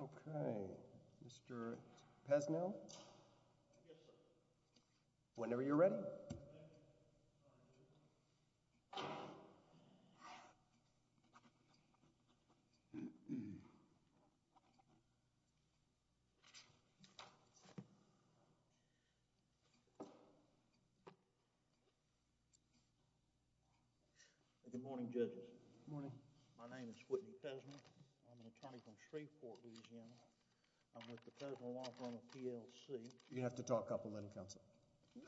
OK, Mr. Pesnell? Yes, sir. Whenever you're ready. Good morning, judges. Good morning. My name is Whitney Pesnell. I'm with the Federal Law Firm of PLC. You have to talk up a little, Counselor.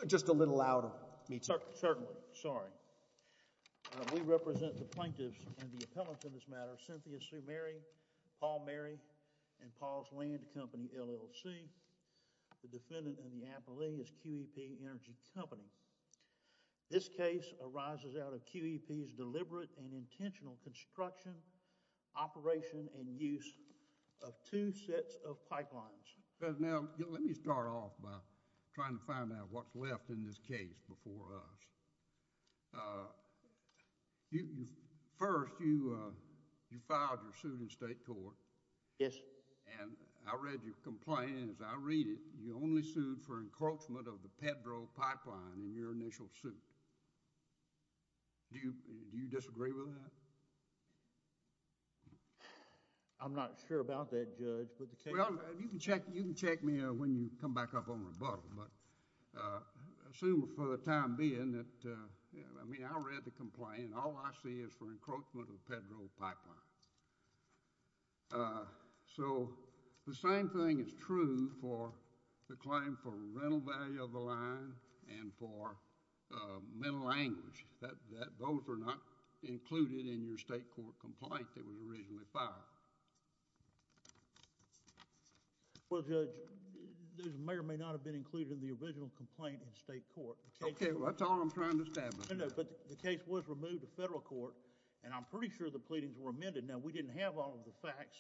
Just a little louder. Certainly. Sorry. We represent the plaintiffs and the appellants in this matter, Cynthia Sue Mary, Paul Mary, and Paul's Land Company, LLC. The defendant in the appeal is QEP Energy Company. This case arises out of QEP's deliberate and intentional construction, operation, and use of two sets of pipelines. Pesnell, let me start off by trying to find out what's left in this case before us. First, you filed your suit in state court. Yes. And I read your complaint. As I read it, you only sued for encroachment of the Pedro Pipeline in your initial suit. Do you disagree with that? I'm not sure about that, Judge. Well, you can check me when you come back up on rebuttal. Assuming for the time being that, I mean, I read the complaint. All I see is for encroachment of the Pedro Pipeline. So, the same thing is true for the claim for rental value of the line and for mental language. Those are not included in your state court complaint that was originally filed. Well, Judge, those may or may not have been included in the original complaint in state court. Okay. Well, that's all I'm trying to establish. No, no. But the case was removed to federal court, and I'm pretty sure the pleadings were amended. Now, we didn't have all of the facts.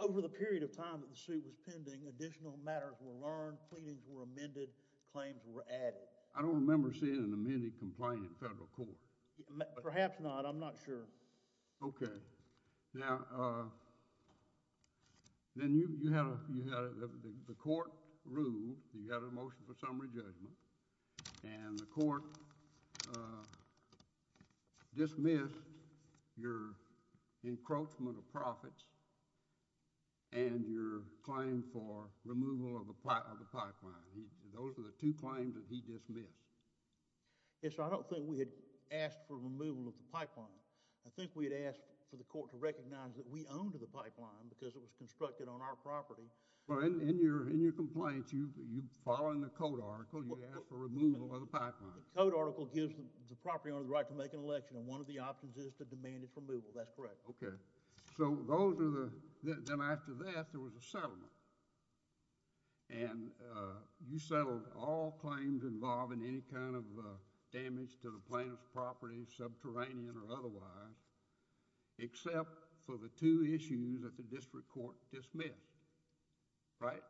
Over the period of time that the suit was pending, additional matters were learned, pleadings were amended, claims were added. I don't remember seeing an amended complaint in federal court. Perhaps not. I'm not sure. Okay. Now, then you had a, the court ruled that you had a motion for summary judgment, and the court dismissed your encroachment of profits and your claim for removal of the pipeline. Those are the two claims that he dismissed. Yes, sir. I don't think we had asked for removal of the pipeline. I think we had asked for the court to recognize that we owned the pipeline because it was constructed on our property. Well, in your complaint, you, following the code article, you asked for removal of the pipeline. The code article gives the property owner the right to make an election, and one of the options is to demand its removal. That's correct. Okay. So, those are the, then after that, there was a settlement. And you settled all claims involving any kind of damage to the plaintiff's property, subterranean or otherwise, except for the two issues that the district court dismissed. Right?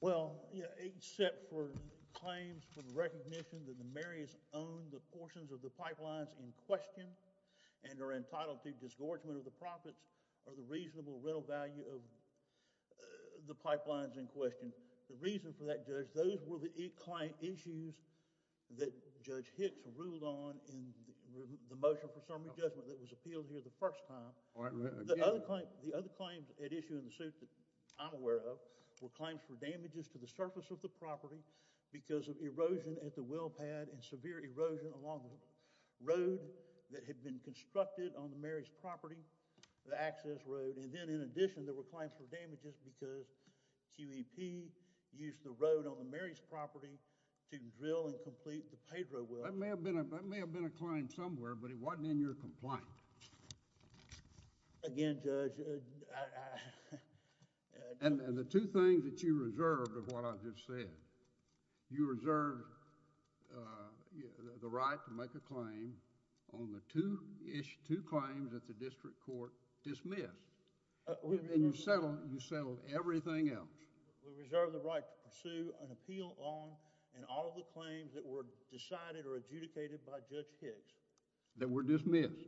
Well, yeah, except for claims for the recognition that the mayor has owned the portions of the pipelines in question and are entitled to disgorgement of the profits or the reasonable rental value of the pipelines in question. The reason for that, Judge, those were the issues that Judge Hicks ruled on in the motion for summary judgment that was appealed here the first time. The other claims at issue in the suit that I'm aware of were claims for damages to the surface of the property because of erosion at the well pad and severe erosion along the road that had been constructed on the Mary's property, the access road. And then, in addition, there were claims for damages because QEP used the road on the Mary's property to drill and complete the Pedro well. That may have been a claim somewhere, but it wasn't in your complaint. Again, Judge, I... And the two things that you reserved of what I just said, you reserved the right to make a claim on the two claims that the district court dismissed. And you settled everything else. We reserved the right to pursue an appeal on and all of the claims that were decided or adjudicated by Judge Hicks. That were dismissed.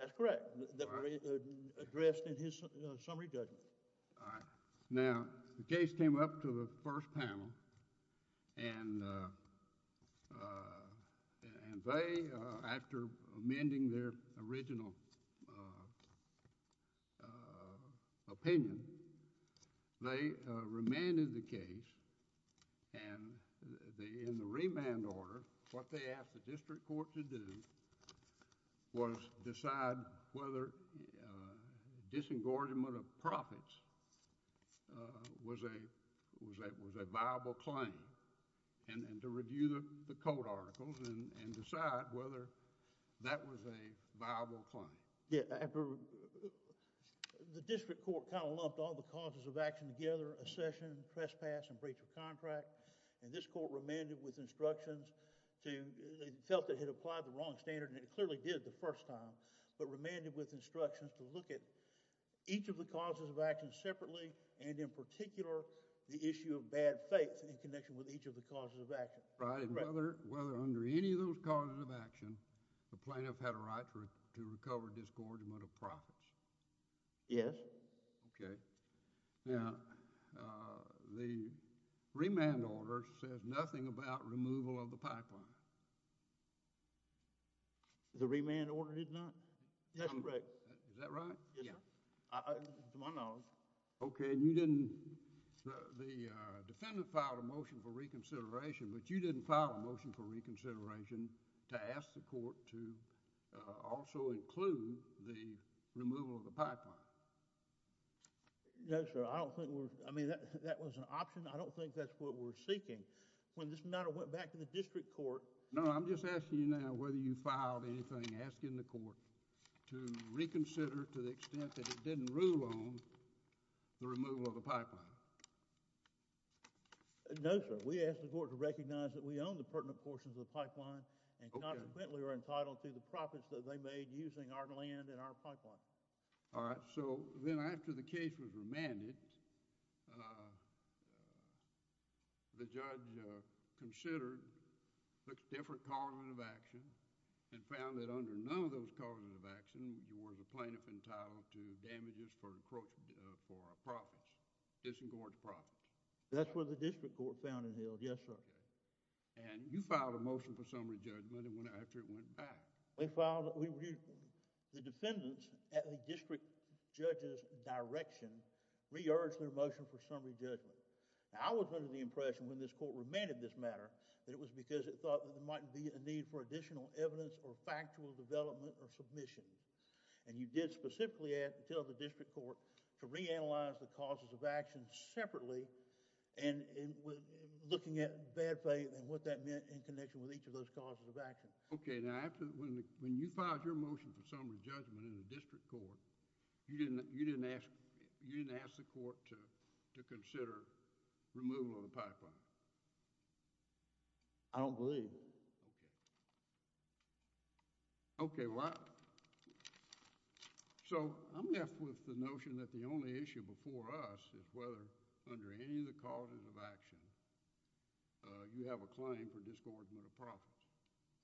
That's correct. That were addressed in his summary judgment. All right. Now, the case came up to the first panel. And they, after amending their original opinion, they remanded the case. And in the remand order, what they asked the district court to do was decide whether disengagement of profits was a viable claim. And to review the court articles and decide whether that was a viable claim. Yeah, after... The district court kind of lumped all the causes of action together, accession, trespass, and breach of contract. And this court remanded with instructions to... It felt it had applied the wrong standard, and it clearly did the first time. But remanded with instructions to look at each of the causes of action separately, and in particular, the issue of bad faith in connection with each of the causes of action. Right. And whether under any of those causes of action, the plaintiff had a right to recover discordant amount of profits. Yes. Okay. Now, the remand order says nothing about removal of the pipeline. The remand order did not? That's correct. Is that right? Yes, sir. To my knowledge. Okay. And you didn't... The defendant filed a motion for reconsideration, but you didn't file a motion for reconsideration to ask the court to also include the removal of the pipeline. No, sir. I don't think we're... I mean, that was an option. I don't think that's what we're seeking. When this matter went back to the district court... No, I'm just asking you now whether you filed anything asking the court to reconsider to the extent that it didn't rule on the removal of the pipeline. No, sir. We asked the court to recognize that we own the pertinent portions of the pipeline... Okay.... and consequently are entitled to the profits that they made using our land and our pipeline. All right. So then after the case was remanded, the judge considered different causes of action and found that under none of those causes of action, you were the plaintiff entitled to damages for, quote, for profits, disagreed profits. That's what the district court found and held. Yes, sir. Okay. And you filed a motion for summary judgment after it went back. We filed... The defendants at the district judge's direction re-urged their motion for summary judgment. Now I was under the impression when this court remanded this matter that it was because it thought there might be a need for additional evidence or factual development or submission. And you did specifically tell the district court to reanalyze the causes of action separately and looking at bad faith and what that meant in connection with each of those causes of action. Okay. Now, when you filed your motion for summary judgment in the district court, you didn't ask the court to consider removal of the pipeline? I don't believe. Okay. Okay. Well, so I'm left with the notion that the only issue before us is whether under any of the causes of action you have a claim for discordant of profits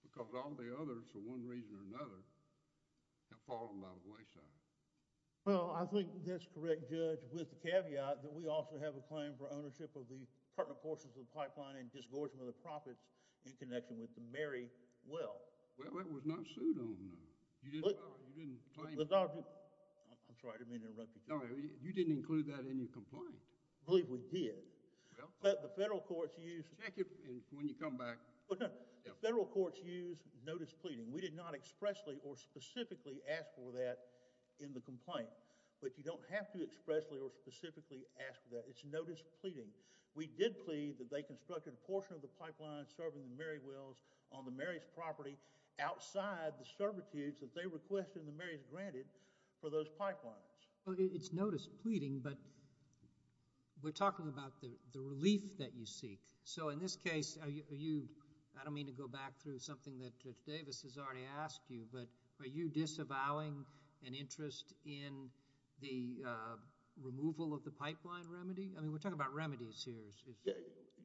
because all the others for one reason or another have fallen out of the wayside. Well, I think that's correct, Judge, with the caveat that we also have a claim for ownership of the pertinent portions of the pipeline and discordant of the profits in connection with the Mary well. Well, that was not sued on. You didn't claim... I'm sorry. I didn't mean to interrupt you. No, you didn't include that in your complaint. I believe we did. But the federal courts used... Check it when you come back. The federal courts used notice pleading. We did not expressly or specifically ask for that in the complaint. But you don't have to expressly or specifically ask for that. It's notice pleading. We did plead that they constructed a portion of the pipeline serving the Mary wells on the Mary's property outside the servitudes that they requested and the Mary's granted for those pipelines. Well, it's notice pleading, but we're talking about the relief that you seek. So in this case, are you... I don't mean to go back through something that Davis has already asked you, but are you disavowing an interest in the removal of the pipeline remedy? I mean, we're talking about remedies here.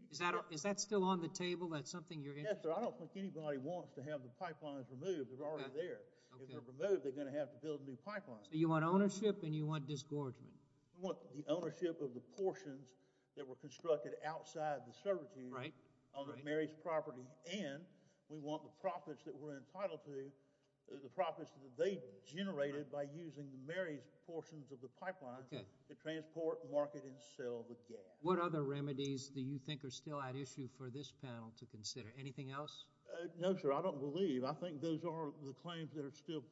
Is that still on the table? That's something you're... Yes, sir. I don't think anybody wants to have the pipelines removed. They're already there. If they're removed, they're going to have to build new pipelines. So you want ownership and you want discordant? We want the ownership of the portions that were constructed outside the servitude on the Mary's property, and we want the profits that we're entitled to, the profits that they generated by using Mary's portions of the pipeline to transport, market, and sell the gas. What other remedies do you think are still at issue for this panel to consider? Anything else? No, sir. I don't believe. I think those are the claims that are still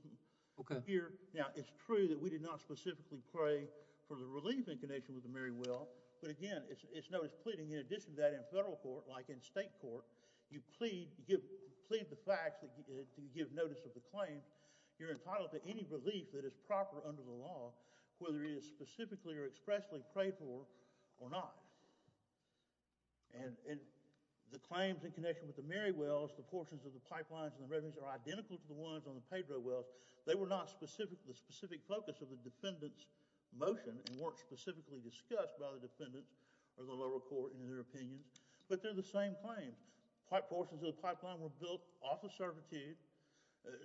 here. Now, it's true that we did not specifically pray for the relief in connection with the Mary well, but again, it's known as pleading. In addition to that, in federal court, like in state court, you plead the facts to give notice of the claim. You're entitled to any relief that is proper under the law, whether it is specifically or expressly prayed for or not. And the claims in connection with the Mary wells, the portions of the pipelines and the revenues, are identical to the ones on the Pedro wells. They were not the specific focus of the defendant's motion and weren't specifically discussed by the defendants or the lower court in their opinions, but they're the same claims. Portions of the pipeline were built off of servitude.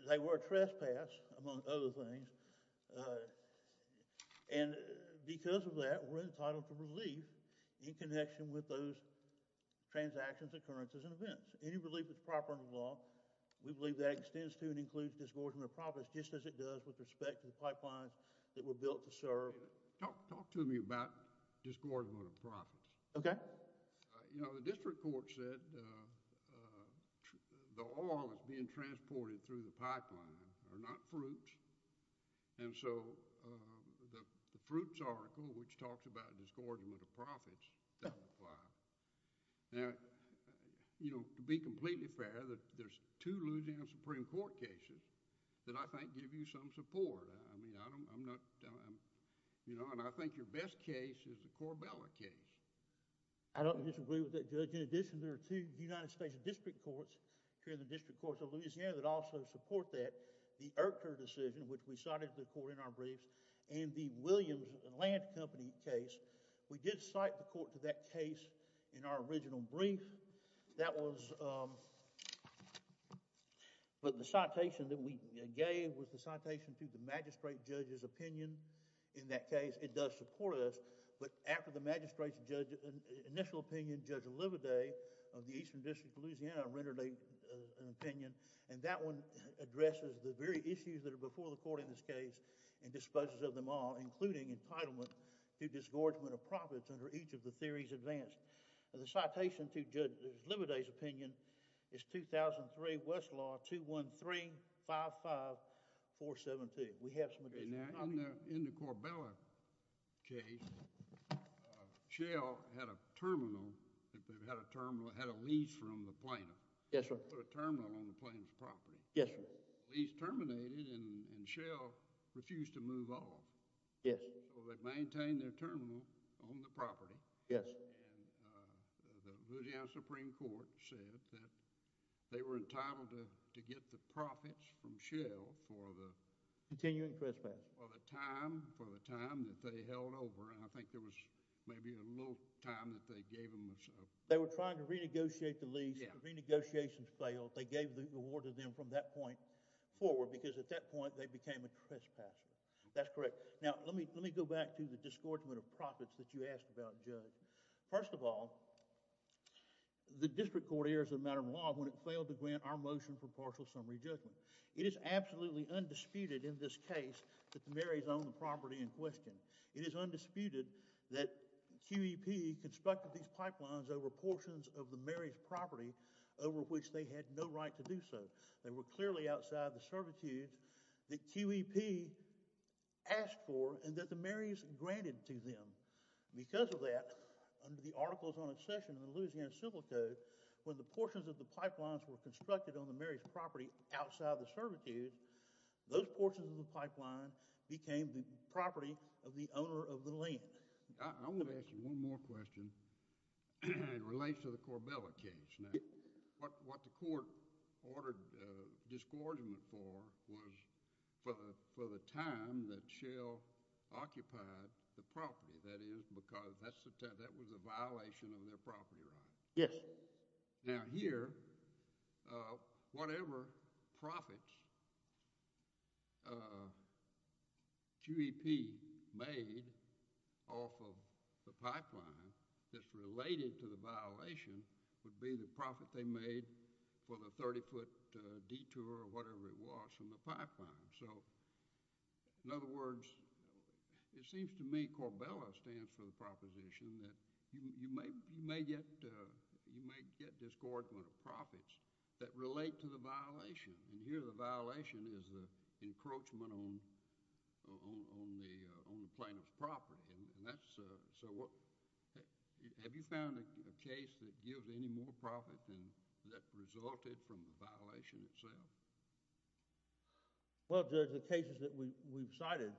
They were a trespass, among other things. And because of that, we're entitled to relief in connection with those transactions, occurrences, and events. Any relief that's proper under the law, we believe that extends to and includes distortion of profits, just as it does with respect to the pipelines that were built to serve... Talk to me about distortion of profits. Okay. You know, the district court said the oil that's being transported through the pipeline are not fruits. And so, the fruits article, which talks about distortion of profits, doesn't apply. Now, you know, to be completely fair, there's two Louisiana Supreme Court cases that I think give you some support. I mean, I don't... I'm not... You know, and I think your best case is the Corbella case. I don't disagree with that, Judge. In addition, there are two United States district courts, here in the district courts of Louisiana, that also support that. The Erker decision, which we cited to the court in our briefs, and the Williams and Land Company case. We did cite the court to that case in our original brief. That was... But the citation that we gave was the citation to the magistrate judge's opinion. In that case, it does support us. But after the magistrate's initial opinion, Judge Lividay of the Eastern District of Louisiana rendered an opinion. And that one addresses the very issues that are before the court in this case and disposes of them all, including entitlement to disgorgement of profits under each of the theories advanced. The citation to Judge Lividay's opinion is 2003 Westlaw 21355, 417. We have some additional... Now, in the Corbella case, Shell had a terminal, had a lease from the planter. Yes, sir. Put a terminal on the planter's property. Yes, sir. Lease terminated, and Shell refused to move off. Yes. So they maintained their terminal on the property. Yes. And the Louisiana Supreme Court said that they were entitled to get the profits from Shell for the... Continuing trespass. For the time that they held over. And I think there was maybe a little time that they gave them a... They were trying to renegotiate the lease. The renegotiations failed. They gave the award to them from that point forward because at that point, they became a trespasser. That's correct. Now, let me go back to the disgorgement of profits that you asked about, Judge. First of all, the district court here is a matter of law when it failed to grant our motion for partial summary judgment. It is absolutely undisputed in this case that the Marys owned the property in question. It is undisputed that QEP constructed these pipelines over portions of the Marys' property over which they had no right to do so. They were clearly outside the servitude that QEP asked for and that the Marys granted to them. Because of that, under the articles on accession and the Louisiana Civil Code, when the portions of the pipelines were constructed on the Marys' property outside the servitude, those portions of the pipeline became the property of the owner of the land. I'm going to ask you one more question that relates to the Corbella case. What the court ordered disgorgement for was for the time that Shell occupied the property. That was a violation of their property right. Yes. Now here, whatever profits QEP made off of the pipeline that's related to the violation would be the profit they made for the 30-foot detour or whatever it was from the pipeline. In other words, it seems to me Corbella stands for the proposition that you may get disgorgement of profits that relate to the violation and here the violation is the encroachment on the plaintiff's property and that's Have you found a case that gives any more profit than that resulted from the violation itself? Well, Judge, the cases that we've cited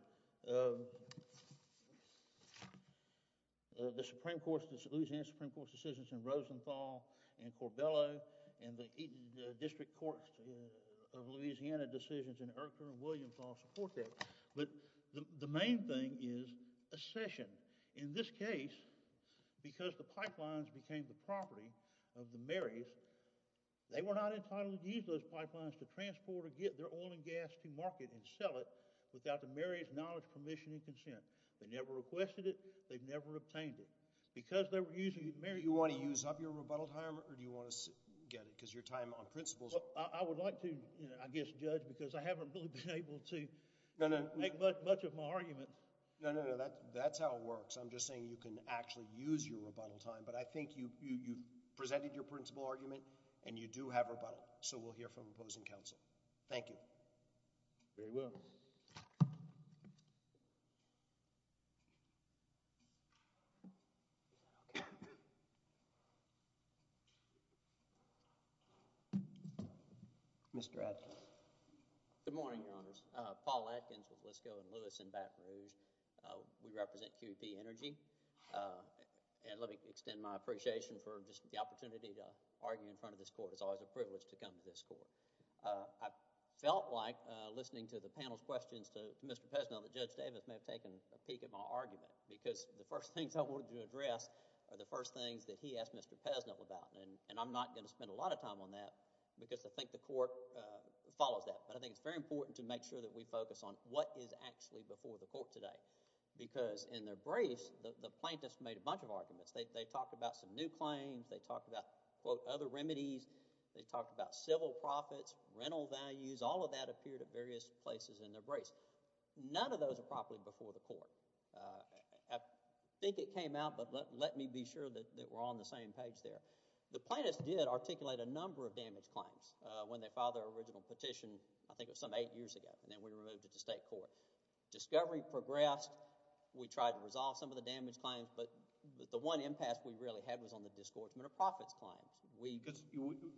the Supreme Court's decisions in Rosenthal and Corbella and the District Court of Louisiana decisions in Urker and Williamthal support that but the main thing is accession. In this case because the pipelines became the property of the Marys they were not entitled to use those pipelines to transport or get their oil and gas to market and sell it without the Marys' knowledge, permission, and consent. They never requested it. They never obtained it. Do you want to use up your rebuttal time or do you want to get it? I would like to, I guess, judge because I haven't really been able to make much of my argument. No, no, no. That's how it works. I'm just saying you can actually use your rebuttal time but I think you've presented your principle argument and you do have rebuttal. So we'll hear from opposing counsel. Thank you. Very well. Mr. Atkins. Good morning, Your Honors. Paul Atkins with Lisco and Lewis and Baton Rouge. We represent QEP Energy and let me extend my appreciation for just the opportunity to argue in front of this court. It's always a privilege to come to this court. I felt like, listening to the panel's questions to Mr. Pesnell, that Judge Davis may have taken a peek at my argument because the first things I wanted to address are the first things that he asked Mr. Pesnell about and I'm not going to spend a lot of time on that because I think the court follows that but I think it's very important to make sure that we focus on what is actually before the court today because in their briefs the plaintiffs made a bunch of arguments. They talked about some new claims. They talked about, quote, other remedies. They talked about civil profits, rental values. All of that appeared at various places in their briefs. None of those are properly before the court. I think it came out but let me be sure that we're on the same page there. The plaintiffs did articulate a number of damage claims when they filed their original petition I think it was some eight years ago and then we removed it to state court. Discovery progressed. We tried to resolve some of the damage claims but the one impasse we really had was on the disgorgement of profits claims.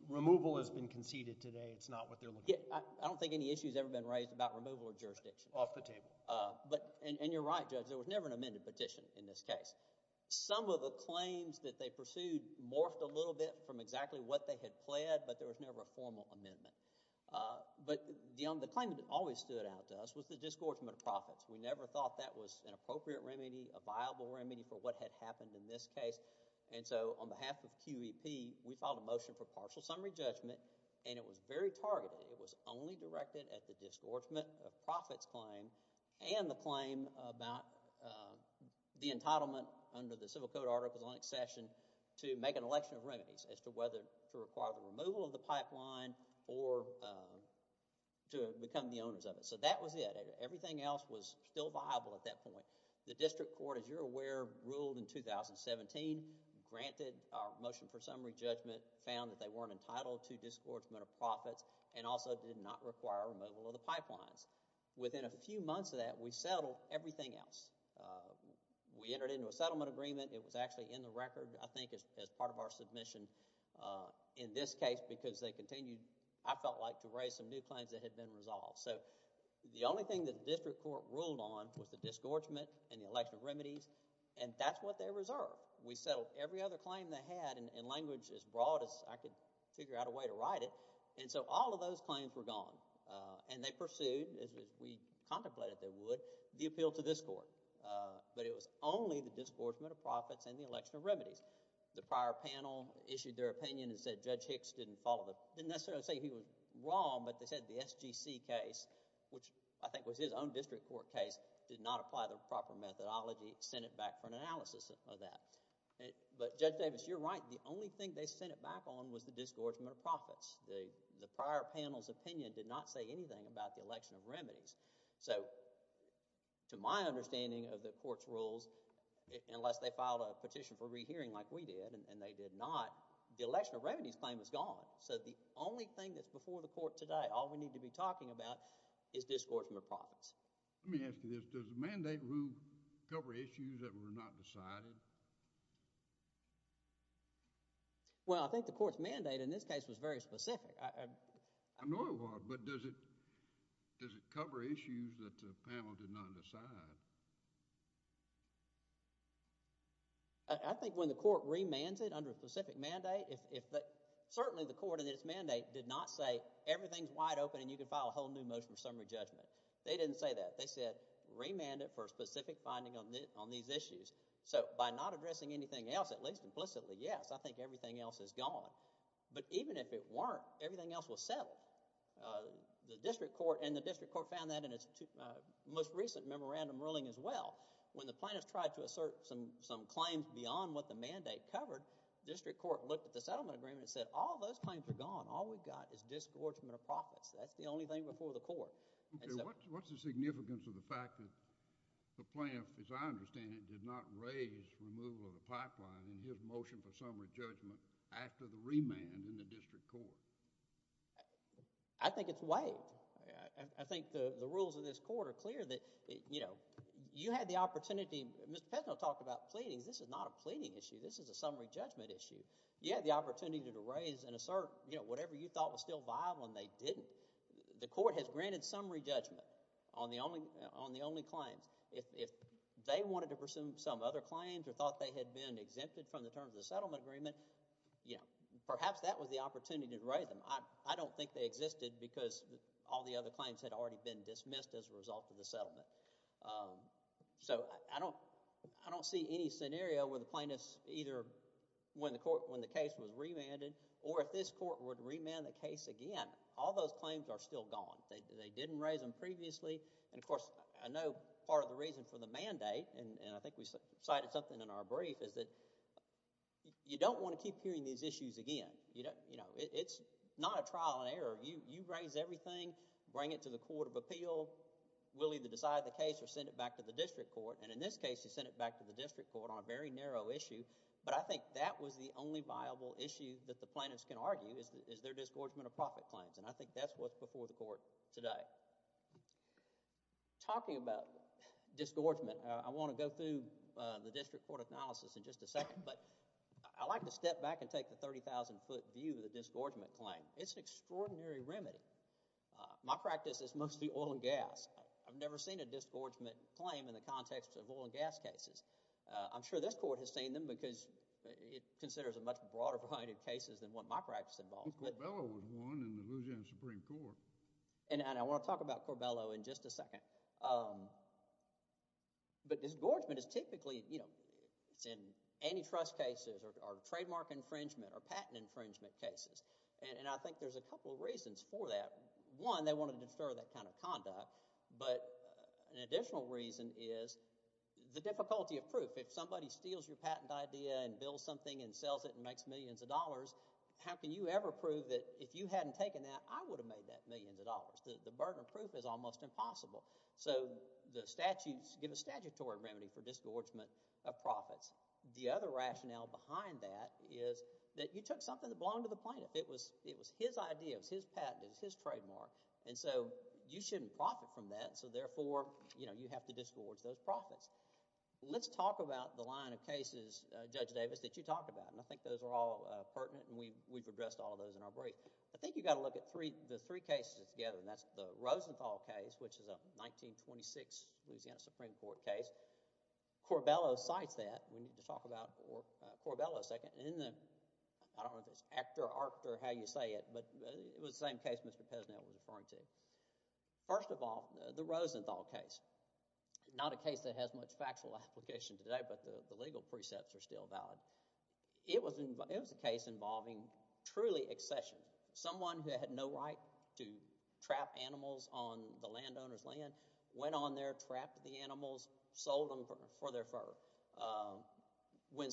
Removal has been conceded today. It's not what they're looking for. I don't think any issue has ever been raised about removal of jurisdiction. Off the table. You're right, Judge. There was never an amended petition in this case. Some of the claims that they pursued morphed a little bit from exactly what they had pled but there was never a formal amendment. The claim that always stood out to us was the disgorgement of profits. We never thought that was an appropriate remedy a viable remedy for what had happened in this case and so on behalf of QEP we filed a motion for partial summary judgment and it was very targeted. It was only directed at the disgorgement of profits claim and the claim about the entitlement under the civil code article on accession to make an election of remedies as to whether to require the removal of the pipeline or to become the owners of it. So that was it. Everything else was still viable at that point. The district court as you're aware ruled in 2017 granted our motion for summary judgment found that they weren't entitled to disgorgement of profits and also did not require removal of the pipelines. Within a few months of that we settled everything else. We entered into a settlement agreement it was actually in the record I think as part of our submission in this case because they continued I felt like to raise some new claims that had been resolved. The only thing that the district court ruled on was the disgorgement and the election of remedies and that's what they reserved. We settled every other claim they had in language as broad as I could figure out a way to write it and so all of those claims were gone and they pursued, as we contemplated they would, the appeal to this court but it was only the disgorgement of profits and the election of remedies. The prior panel issued their opinion and said Judge Hicks didn't follow didn't necessarily say he was wrong but they said the SGC case which I think was his own district court case did not apply the proper methodology sent it back for an analysis of that. But Judge Davis you're right the only thing they sent it back on was the disgorgement of profits. The prior panel's opinion did not say anything about the election of remedies. So to my understanding of the court's rules unless they filed a petition for rehearing like we did and they did not the election of remedies claim was gone. So the only thing that's before the court today all we need to be talking about is disgorgement of profits. Let me ask you this, does the mandate rule cover issues that were not decided? Well I think the court's mandate in this case was very specific. I know it was but does it does it cover issues that the panel did not decide? I think when the court remands it under a specific mandate certainly the court in its mandate did not say everything's wide open and you can file a whole new motion for summary judgment. They didn't say that. They said remand it for a specific finding on these issues. So by not addressing anything else at least implicitly yes I think everything else is gone. But even if it weren't everything else was settled. The district court and the district court found that in its most recent memorandum ruling as well when the plaintiffs tried to assert some claims beyond what the mandate covered the district court looked at the settlement agreement and said all those claims are gone. All we've got is disgorgement of profits. That's the only thing before the court. What's the significance of the fact that the plaintiff as I understand it did not raise removal of the pipeline in his motion for summary judgment after the remand in the district court? I think it's waived. I think the rules of this court are clear that you had the opportunity Mr. Pesno talked about pleadings because this is not a pleading issue this is a summary judgment issue. You had the opportunity to raise and assert whatever you thought was still viable and they didn't. The court has granted summary judgment on the only claims. If they wanted to presume some other claims or thought they had been exempted from the terms of the settlement agreement perhaps that was the opportunity to raise them. I don't think they existed because all the other claims had already been dismissed as a result of the settlement. I don't see any scenario where the plaintiffs either when the case was remanded or if this court would remand the case again all those claims are still gone. They didn't raise them previously and of course I know part of the reason for the mandate and I think we cited something in our brief is that you don't want to keep hearing these issues again. It's not a trial and error. You raise everything bring it to the court of appeal we'll either decide the case or send it back to the district court and in this case we sent it back to the district court on a very narrow issue but I think that was the only viable issue that the plaintiffs can argue is their disgorgement of profit claims and I think that's what's before the court today. Talking about disgorgement I want to go through the district court analysis in just a second but I like to step back and take the 30,000 foot view of the disgorgement claim. It's an extraordinary remedy. My practice is mostly oil and gas. I've never seen a disgorgement claim in the context of oil and gas cases. I'm sure this court has seen them because it considers a much broader variety of cases than what my practice involves. I think Corbello was one in the Louisiana Supreme Court. And I want to talk about Corbello in just a second. But disgorgement is typically in antitrust cases or trademark infringement or patent infringement cases and I think there's a couple of reasons for that. One, they want to disturb that kind of conduct but an additional reason is the difficulty of proof. If somebody steals your patent idea and builds something and sells it and makes millions of dollars how can you ever prove that if you hadn't taken that I would have made that millions of dollars. The burden of proof is almost impossible. So the statutes give a statutory remedy for disgorgement of profits. The other rationale behind that is that you took something that belonged to the plaintiff. It was his idea. It was his patent. It was his trademark. And so you shouldn't profit from that so therefore you have to disgorge those profits. Let's talk about the line of cases Judge Davis, that you talked about and I think those are all pertinent and we've addressed all of those in our break. I think you've got to look at the three cases together and that's the Rosenthal case which is a 1926 Louisiana Supreme Court case. Corbello cites that we need to talk about Corbello I don't know if it's act or art or how you say it but it was the same case Mr. Pesnet was referring to. First of all, the Rosenthal case not a case that has much factual application today but the legal precepts are still valid. It was a case involving truly accession. Someone who had no right to trap animals on the landowner's land went on there, trapped the animals sold them for their fur. When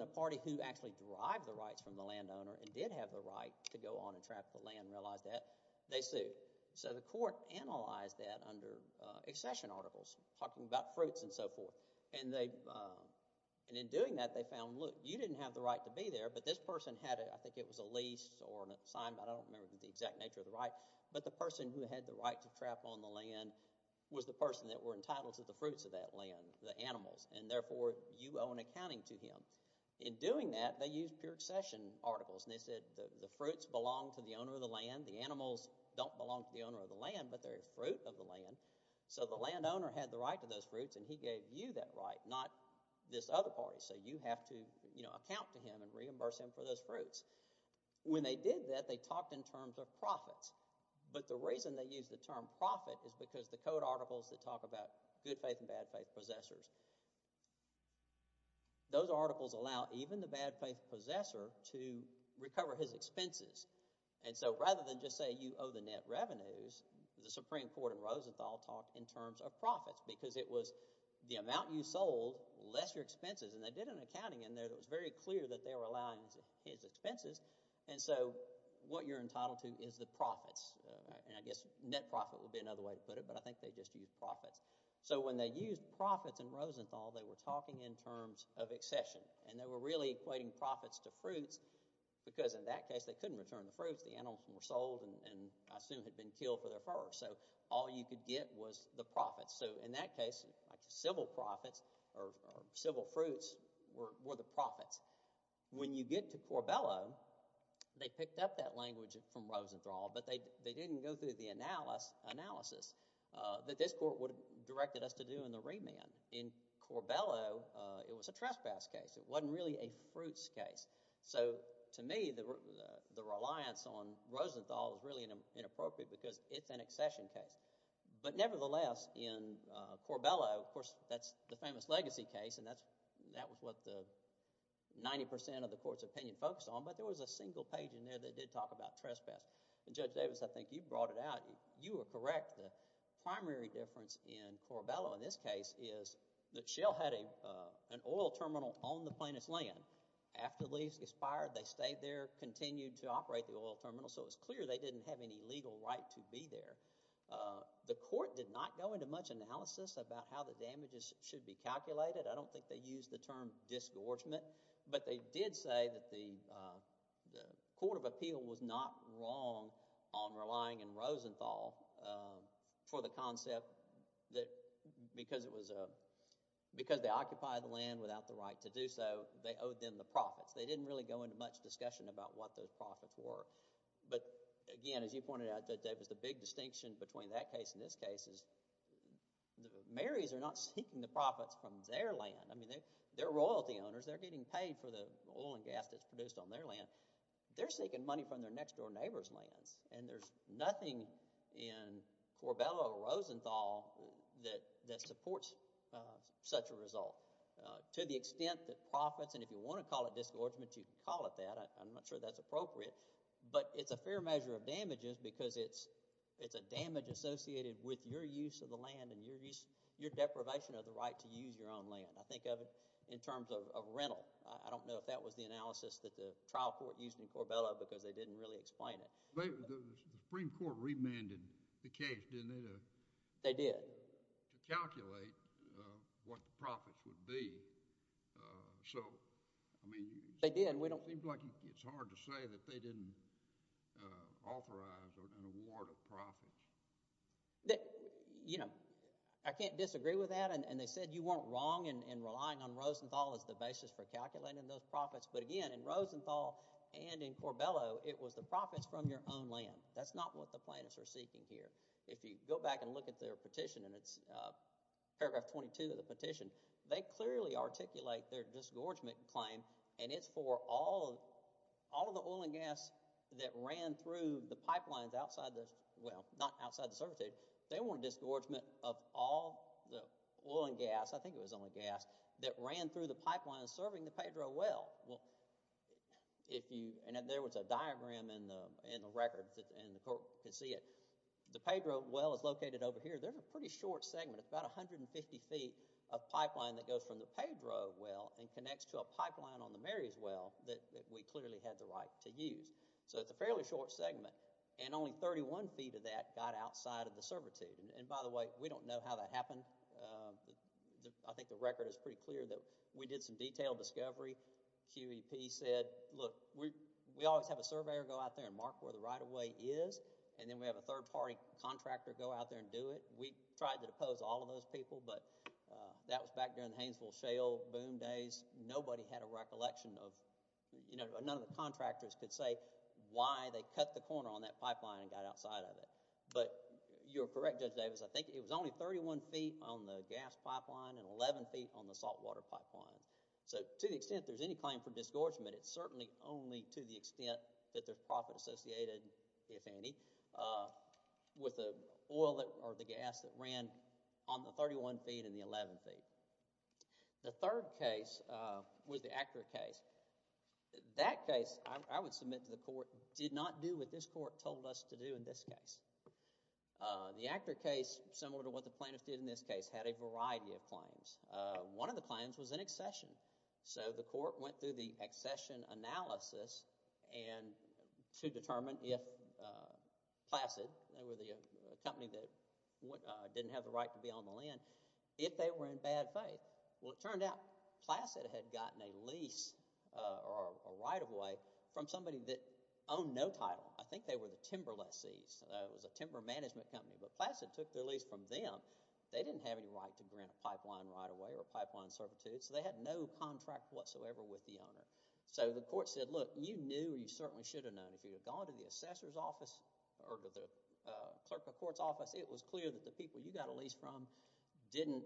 a party who actually derived the rights from the landowner and did have the right to go on and trap the land realized that, they sued. So the court analyzed that under accession articles talking about fruits and so forth and in doing that they found you didn't have the right to be there but this person had, I think it was a lease I don't remember the exact nature of the right but the person who had the right to trap that were entitled to the fruits of that land the animals and therefore you owe an accounting to him. In doing that they used pure accession articles and they said the fruits belong to the owner of the land the animals don't belong to the owner of the land but they're a fruit of the land so the landowner had the right to those fruits and he gave you that right, not this other party so you have to account to him and reimburse him for those fruits. When they did that they talked in terms of profits but the reason they used the term profit is because the code articles that talk about good faith and bad faith possessors those articles allow even the bad faith possessor to recover his expenses and so rather than just say you owe the net revenues the Supreme Court in Rosenthal talked in terms of profits because it was the amount you sold less your expenses and they did an accounting in there that was very clear that they were allowing his expenses and so what you're entitled to is the profits and I guess net profit would be another way to put it but I think they just used profits so when they used profits in Rosenthal they were talking in terms of accession and they were really equating profits to fruits because in that case they couldn't return the fruits, the animals were sold and I assume had been killed for their fur so all you could get was the profits so in that case civil profits or civil fruits were the profits. When you get to Corbello they picked up that language from Rosenthal but they didn't go through the analysis that this court would have directed us to do in the remand. In Corbello it was a trespass case. It wasn't really a fruits case so to me the reliance on Rosenthal is really inappropriate because it's an accession case but nevertheless in Corbello of course that's the famous legacy case and that was what the 90% of the court's opinion focused on but there was a single page in there that did talk about trespass and Judge Davis I think you brought it out, you were correct the primary difference in Corbello in this case is that Shell had an oil terminal on the plaintiff's land. After the lease expired they stayed there, continued to operate the oil terminal so it was clear they didn't have any legal right to be there. The court did not go into much analysis about how the damages should be calculated. I don't think they used the term disgorgement but they did say that the court of appeal was not wrong on relying on Rosenthal for the concept that because it was because they occupied the land without the right to do so they owed them the profits. They didn't really go into much discussion about what those profits were but again as you pointed out Judge Davis the big distinction between that case and this case is the mayors are not seeking the profits from their land. They're royalty owners, they're getting paid for the oil and gas that's produced on their land. They're seeking money from their next door neighbor's lands and there's nothing in Corbello or Rosenthal that supports such a result. To the extent that profits and if you want to call it disgorgement you can call it that. I'm not sure that's appropriate but it's a fair measure of damages because it's a damage associated with your use of the land and your deprivation of the right to use your own land. I think of it in terms of rental. I don't know if that was the analysis that the trial court used in Corbello because they didn't really explain it. The Supreme Court remanded the case didn't it? They did. To calculate what the profits would be so I mean they did. It seems like it's hard to say that they didn't authorize an award of profits. You know I can't disagree with that and they said you weren't wrong in relying on Rosenthal as the basis for calculating those profits but again in Rosenthal and in Corbello it was the profits from your own land. That's not what the plaintiffs are seeking here. If you go back and look at their petition and it's paragraph 22 of the petition they clearly articulate their disgorgement claim and it's for all of the oil and gas that ran through the pipelines outside the well not outside the service area. They want a disgorgement of all the oil and gas, I think it was only gas, that ran through the pipeline serving the Pedro well. There was a diagram in the record and the court could see it. The Pedro well is located over here. There's a pretty short segment about 150 feet of pipeline that goes from the Pedro well and connects to a pipeline on the Mary's well that we clearly had the right to use. So it's a fairly short segment and only 31 feet of that got outside of the servitude and by the way we don't know how that happened. I think the record is pretty clear that we did some detailed discovery. QEP said look we always have a surveyor go out there and mark where the right of way is and then we have a third party contractor go out there and do it. We tried to depose all of those people but that was back during the Hainesville Shale boom days. Nobody had a recollection of, you know, none of the contractors could say why they cut the corner on that pipeline and got outside of it. But you're correct Judge Davis. I think it was only 31 feet on the gas pipeline and 11 feet on the saltwater pipeline. So to the extent there's any claim for disgorgement it's certainly only to the extent that there's profit associated, if any, with the oil or the gas that ran on the 31 feet and the 11 feet. The third case was the Acura case. That case I would submit to the court did not do what this court told us to do in this case. The Acura case similar to what the plaintiffs did in this case had a variety of claims. One of the claims was an accession. So the court went through the accession analysis to determine if Placid, they were the company that didn't have the right to be on the land, if they were in bad faith. Well it turned out Placid had gotten a lease or a right of way from somebody that owned no title. I think they were the timber lessees. It was a timber management company, but Placid took their lease from them. They didn't have any right to grant a pipeline right of way or pipeline certitude, so they had no contract whatsoever with the owner. So the court said, look, you knew or you certainly should have known if you had gone to the assessor's office or to the clerk of court's office, it was clear that the people you got a lease from didn't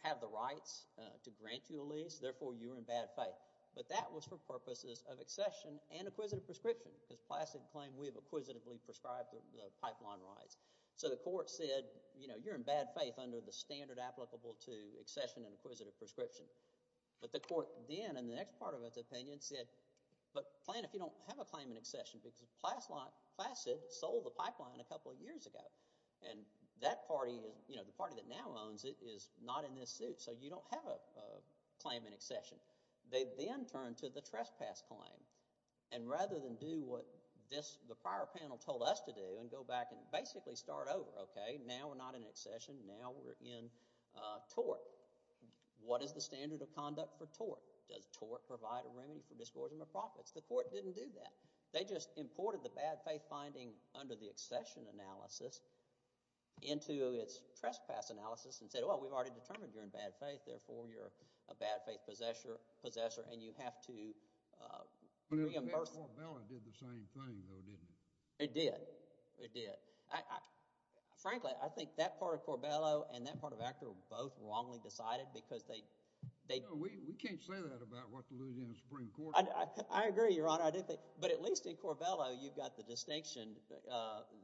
have the rights to grant you a lease, therefore you were in bad faith. But that was for purposes of accession and acquisitive prescription, because Placid claimed we have acquisitively prescribed the pipeline rights. So the court said you're in bad faith under the standard applicable to accession and acquisitive prescription. But the court then in the next part of its opinion said but plan if you don't have a claim in accession, because Placid sold the pipeline a couple of years ago and that party, the party that now owns it, is not in this suit, so you don't have a claim in accession. They then turned to the trespass claim and rather than do what the prior panel told us to do and go back and basically start over, okay, now we're not in accession, now we're in tort. What is the standard of conduct for tort? Does tort provide a remedy for distortion of profits? The court didn't do that. They just imported the bad faith finding under the accession analysis into its trespass analysis and said, well, we've already determined you're in bad faith, therefore you're a bad faith possessor and you have to reimburse... But in the case of Corbello, it did the same thing, though, didn't it? It did. It did. Frankly, I think that part of Corbello and that part of Aker were both wrongly decided because they... No, we can't say that about what the Louisiana Supreme Court... I agree, Your Honor, but at least in Corbello, you've got the distinction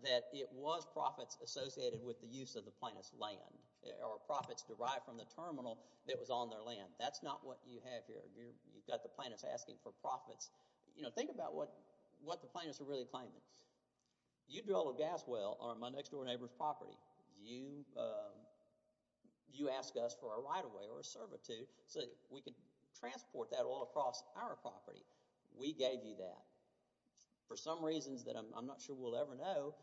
that it was profits associated with the use of the plaintiff's land or profits derived from the terminal that was on their land. That's not what you have here. You've got the plaintiffs asking for profits. Think about what the plaintiffs are really claiming. You drill a gas well on my next-door neighbor's property. You ask us for a right-of-way or a servitude so that we can transport that oil across our property. We gave you that. For some reasons that I'm not sure we'll ever know,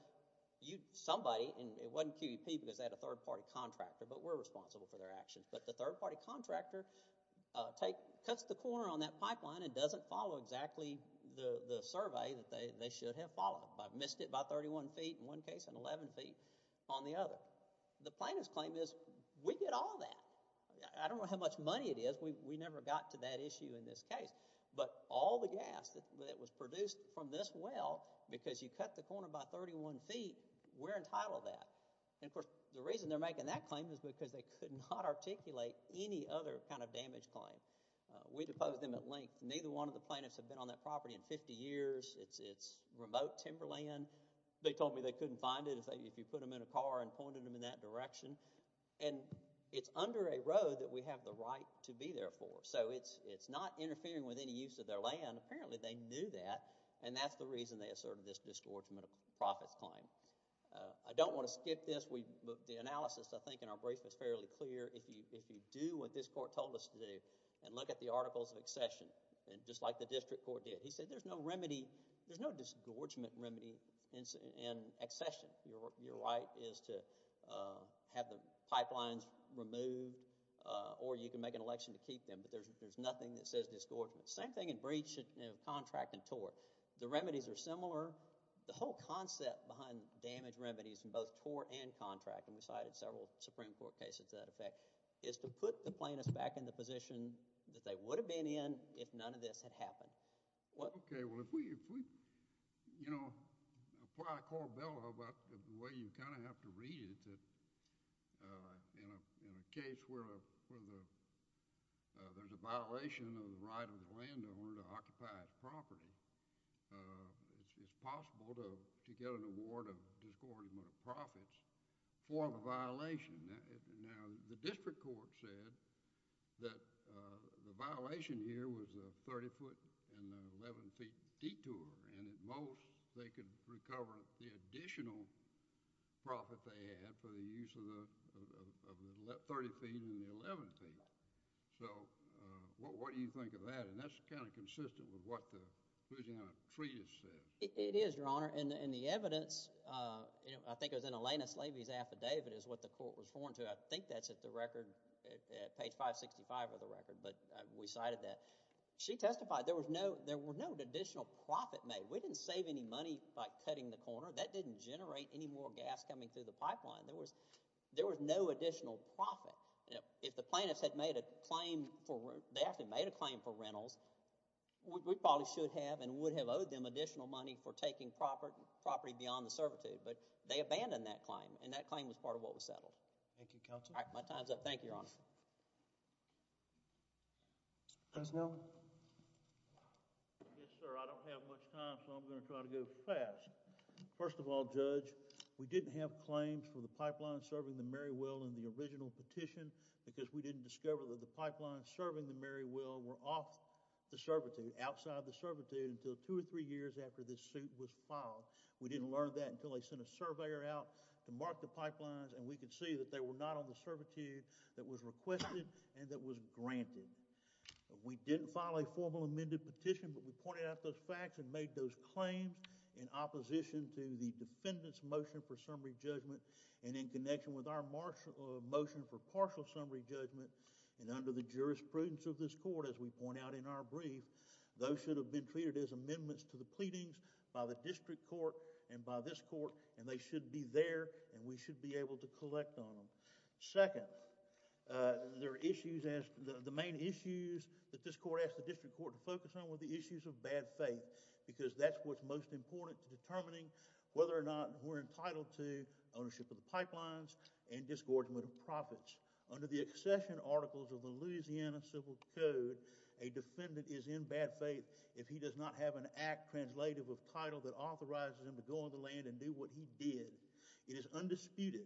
somebody and it wasn't QEP because they had a third-party contractor, but we're responsible for their actions, but the third-party contractor cuts the corner on that pipeline and doesn't follow exactly the survey that they should have followed. I've missed it by 31 feet in one case and 11 feet on the other. The plaintiff's claim is we get all that. I don't know how much money it is. We never got to that issue in this case, but all the gas that was produced from this well because you cut the corner by 31 feet, we're entitled to that. Of course, the reason they're making that claim is because they could not articulate any other kind of damage claim. We deposed them at length. Neither one of the plaintiffs have been on that property in 50 years. It's remote timberland. They told me they couldn't find it if you put them in a car and pointed them in that direction. It's under a road that we have the right to be there for, so it's not interfering with any use of their land. Apparently they knew that, and that's the reason they asserted this disgorgement of profits claim. I don't want to skip this. The analysis, I think, in our brief is fairly clear. If you do what this court told us to do and look at the articles of accession just like the district court did, he said there's no disgorgement remedy in accession. Your right is to have the pipelines removed or you can make an election to keep them, but there's nothing that says disgorgement. Same thing in breach of contract and tort. The remedies are similar. The whole concept behind damage remedies in both tort and contract, and we cited several Supreme Court cases to that effect, is to put the plaintiffs back in the position that they would have been in if none of this had happened. Okay, well if we apply a corbella about the way you kind of have to read it, in a case where there's a violation of the right of the landowner to occupy his property, it's possible to get an award of disgorgement of profits for the violation. Now, the district court said that the violation here was a 30-foot and 11-feet detour, and at most they could recover the additional profit they had for the use of the 30 feet and the 11 feet. So, what do you think of that? And that's kind of consistent with what the Louisiana Treatise says. It is, Your Honor, and the evidence, I think it was in Elena Slaby's affidavit, is what the court was referring to. I think that's at the record at page 565 of the record, but we cited that. She testified there were no additional profit made. We didn't save any money by cutting the corner. That didn't generate any more gas coming through the pipeline. There was no additional profit. If the plaintiffs had made a claim for, they actually made a claim for rentals, we probably should have and would have owed them additional money for taking property beyond the servitude, but they abandoned that claim, and that claim was part of what was settled. Thank you, Counselor. My time's up. Thank you, Your Honor. Judge Nelson? Yes, sir. I don't have much time, so I'm going to try to go fast. First of all, Judge, we didn't have claims for the original petition because we didn't discover that the pipelines serving the Merriwell were off the servitude, outside the servitude, until two or three years after this suit was filed. We didn't learn that until they sent a surveyor out to mark the pipelines, and we could see that they were not on the servitude that was requested and that was granted. We didn't file a formal amended petition, but we pointed out those facts and made those claims in opposition to the defendant's motion for summary judgment, and in connection with our motion for partial summary judgment, and under the jurisprudence of this court, as we point out in our brief, those should have been treated as amendments to the pleadings by the district court and by this court, and they should be there, and we should be able to collect on them. Second, there are issues, the main issues that this court asked the district court to focus on were the issues of bad faith, because that's what's most important to determining whether or not we're entitled to ownership of the pipelines and disgorgement of profits. Under the accession articles of the Louisiana Civil Code, a defendant is in bad faith if he does not have an act translative of title that authorizes him to go on the land and do what he did. It is undisputed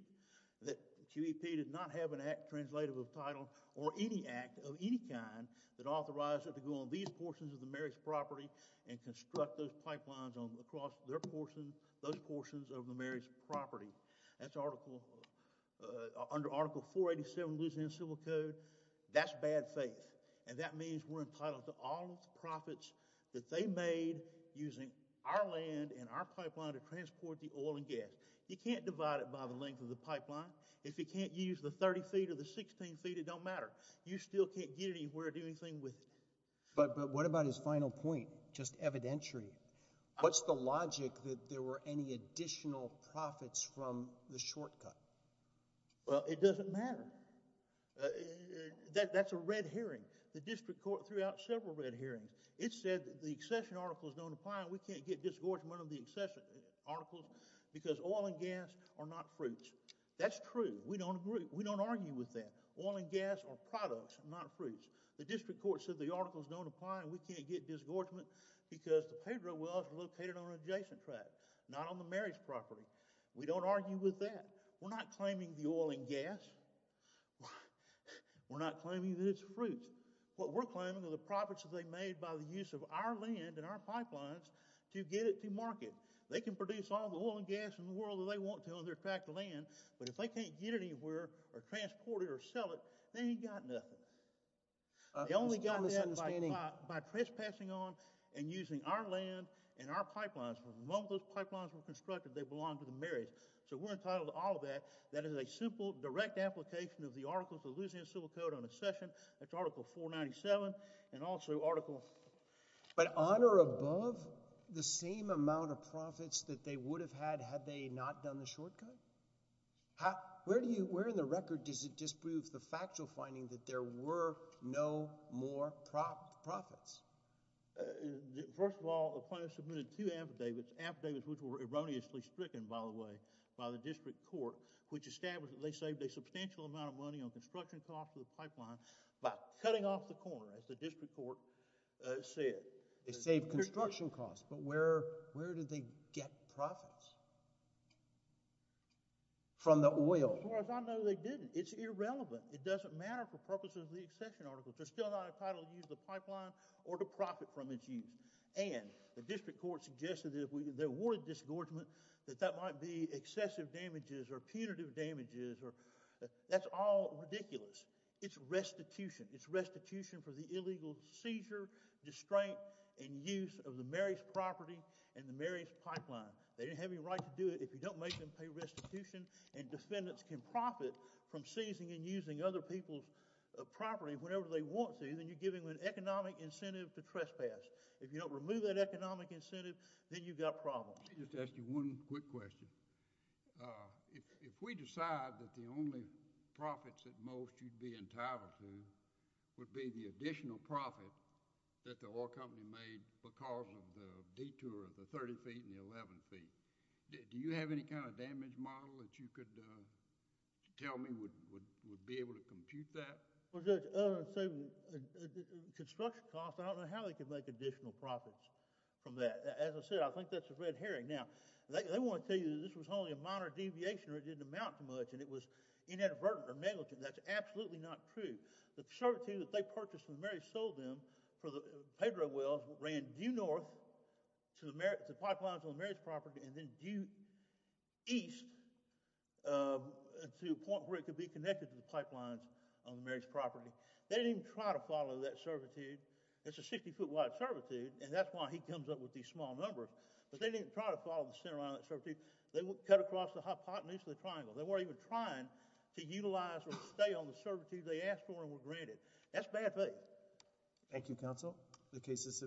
that QEP did not have an act translative of title or any act of any kind that authorized it to go on these portions of the Mary's property and construct those pipelines across those portions of the Mary's property. That's under Article 487 of the Louisiana Civil Code. That's bad faith, and that means we're entitled to all profits that they made using our land and our pipeline to transport the oil and gas. You can't divide it by the length of the pipeline. If you can't use the 30 feet or the 16 feet, it don't matter. You still can't get anywhere or do anything with it. But what about his final point? Just evidentiary. What's the logic that there were any additional profits from the shortcut? It doesn't matter. That's a red herring. The district court threw out several red herrings. It said the accession articles don't apply and we can't get disgorgement of the accession articles because oil and gas are not fruits. That's true. We don't agree. We don't argue with that. Oil and gas are products, not fruits. The district court said the accession articles don't apply because the Pedro wells are located on an adjacent tract, not on the Mary's property. We don't argue with that. We're not claiming the oil and gas. We're not claiming that it's fruit. What we're claiming are the profits that they made by the use of our land and our pipelines to get it to market. They can produce all the oil and gas in the world that they want to on their tract of land, but if they can't get it anywhere or transport it or sell it, they ain't got nothing. They only got that by trespassing on and using our land and our pipelines. When those pipelines were constructed, they belonged to the Mary's. So we're entitled to all of that. That is a simple, direct application of the articles of the Louisiana Civil Code on accession. That's article 497 and also article But on or above the same amount of profits that they would have had had they not done the shortcut? Where in the record does it disprove the factual finding that there were no more profits? First of all, the plaintiffs submitted two affidavits, affidavits which were erroneously stricken, by the way, by the district court, which established that they saved a substantial amount of money on construction costs for the pipeline by cutting off the corner, as the district court said. They saved construction costs, but where did they get profits from the oil? As far as I know, they didn't. It's irrelevant. It doesn't matter for purposes of the accession articles. They're still not entitled to use the pipeline or to profit from its use. And the district court suggested that if there were a disgorgement, that that might be excessive damages or punitive damages or that's all ridiculous. It's restitution. It's restitution for the illegal seizure, distraint, and use of the Mary's property and the Mary's pipeline. They didn't have any right to do it if you don't make and pay restitution and defendants can profit from seizing and using other people's property whenever they want to, then you're giving them an economic incentive to trespass. If you don't remove that economic incentive, then you've got problems. Let me just ask you one quick question. If we decide that the only profits at most you'd be entitled to would be the additional profit that the oil company made because of the detour of the 30 feet and the 11 feet, do you have any kind of damage model that you could tell me would be able to compute that? Construction costs, I don't know how they could make additional profits from that. As I said, I think that's a red herring. Now, they want to tell you that this was only a moderate deviation or it didn't amount to much and it was inadvertent or negligent. That's absolutely not true. The preservative that they purchased when Mary sold them for the Pedro Wells ran due north to the pipelines on Mary's property and then due east to a point where it could be connected to the pipelines on Mary's property. They didn't even try to follow that servitude. It's a 60 foot wide servitude and that's why he comes up with these small numbers. But they didn't try to follow the center line of that servitude. They cut across the hypotenuse of the triangle. They weren't even trying to utilize or stay on the servitude they asked for and were granted. That's bad faith. Thank you, Counsel. The case is adjourned.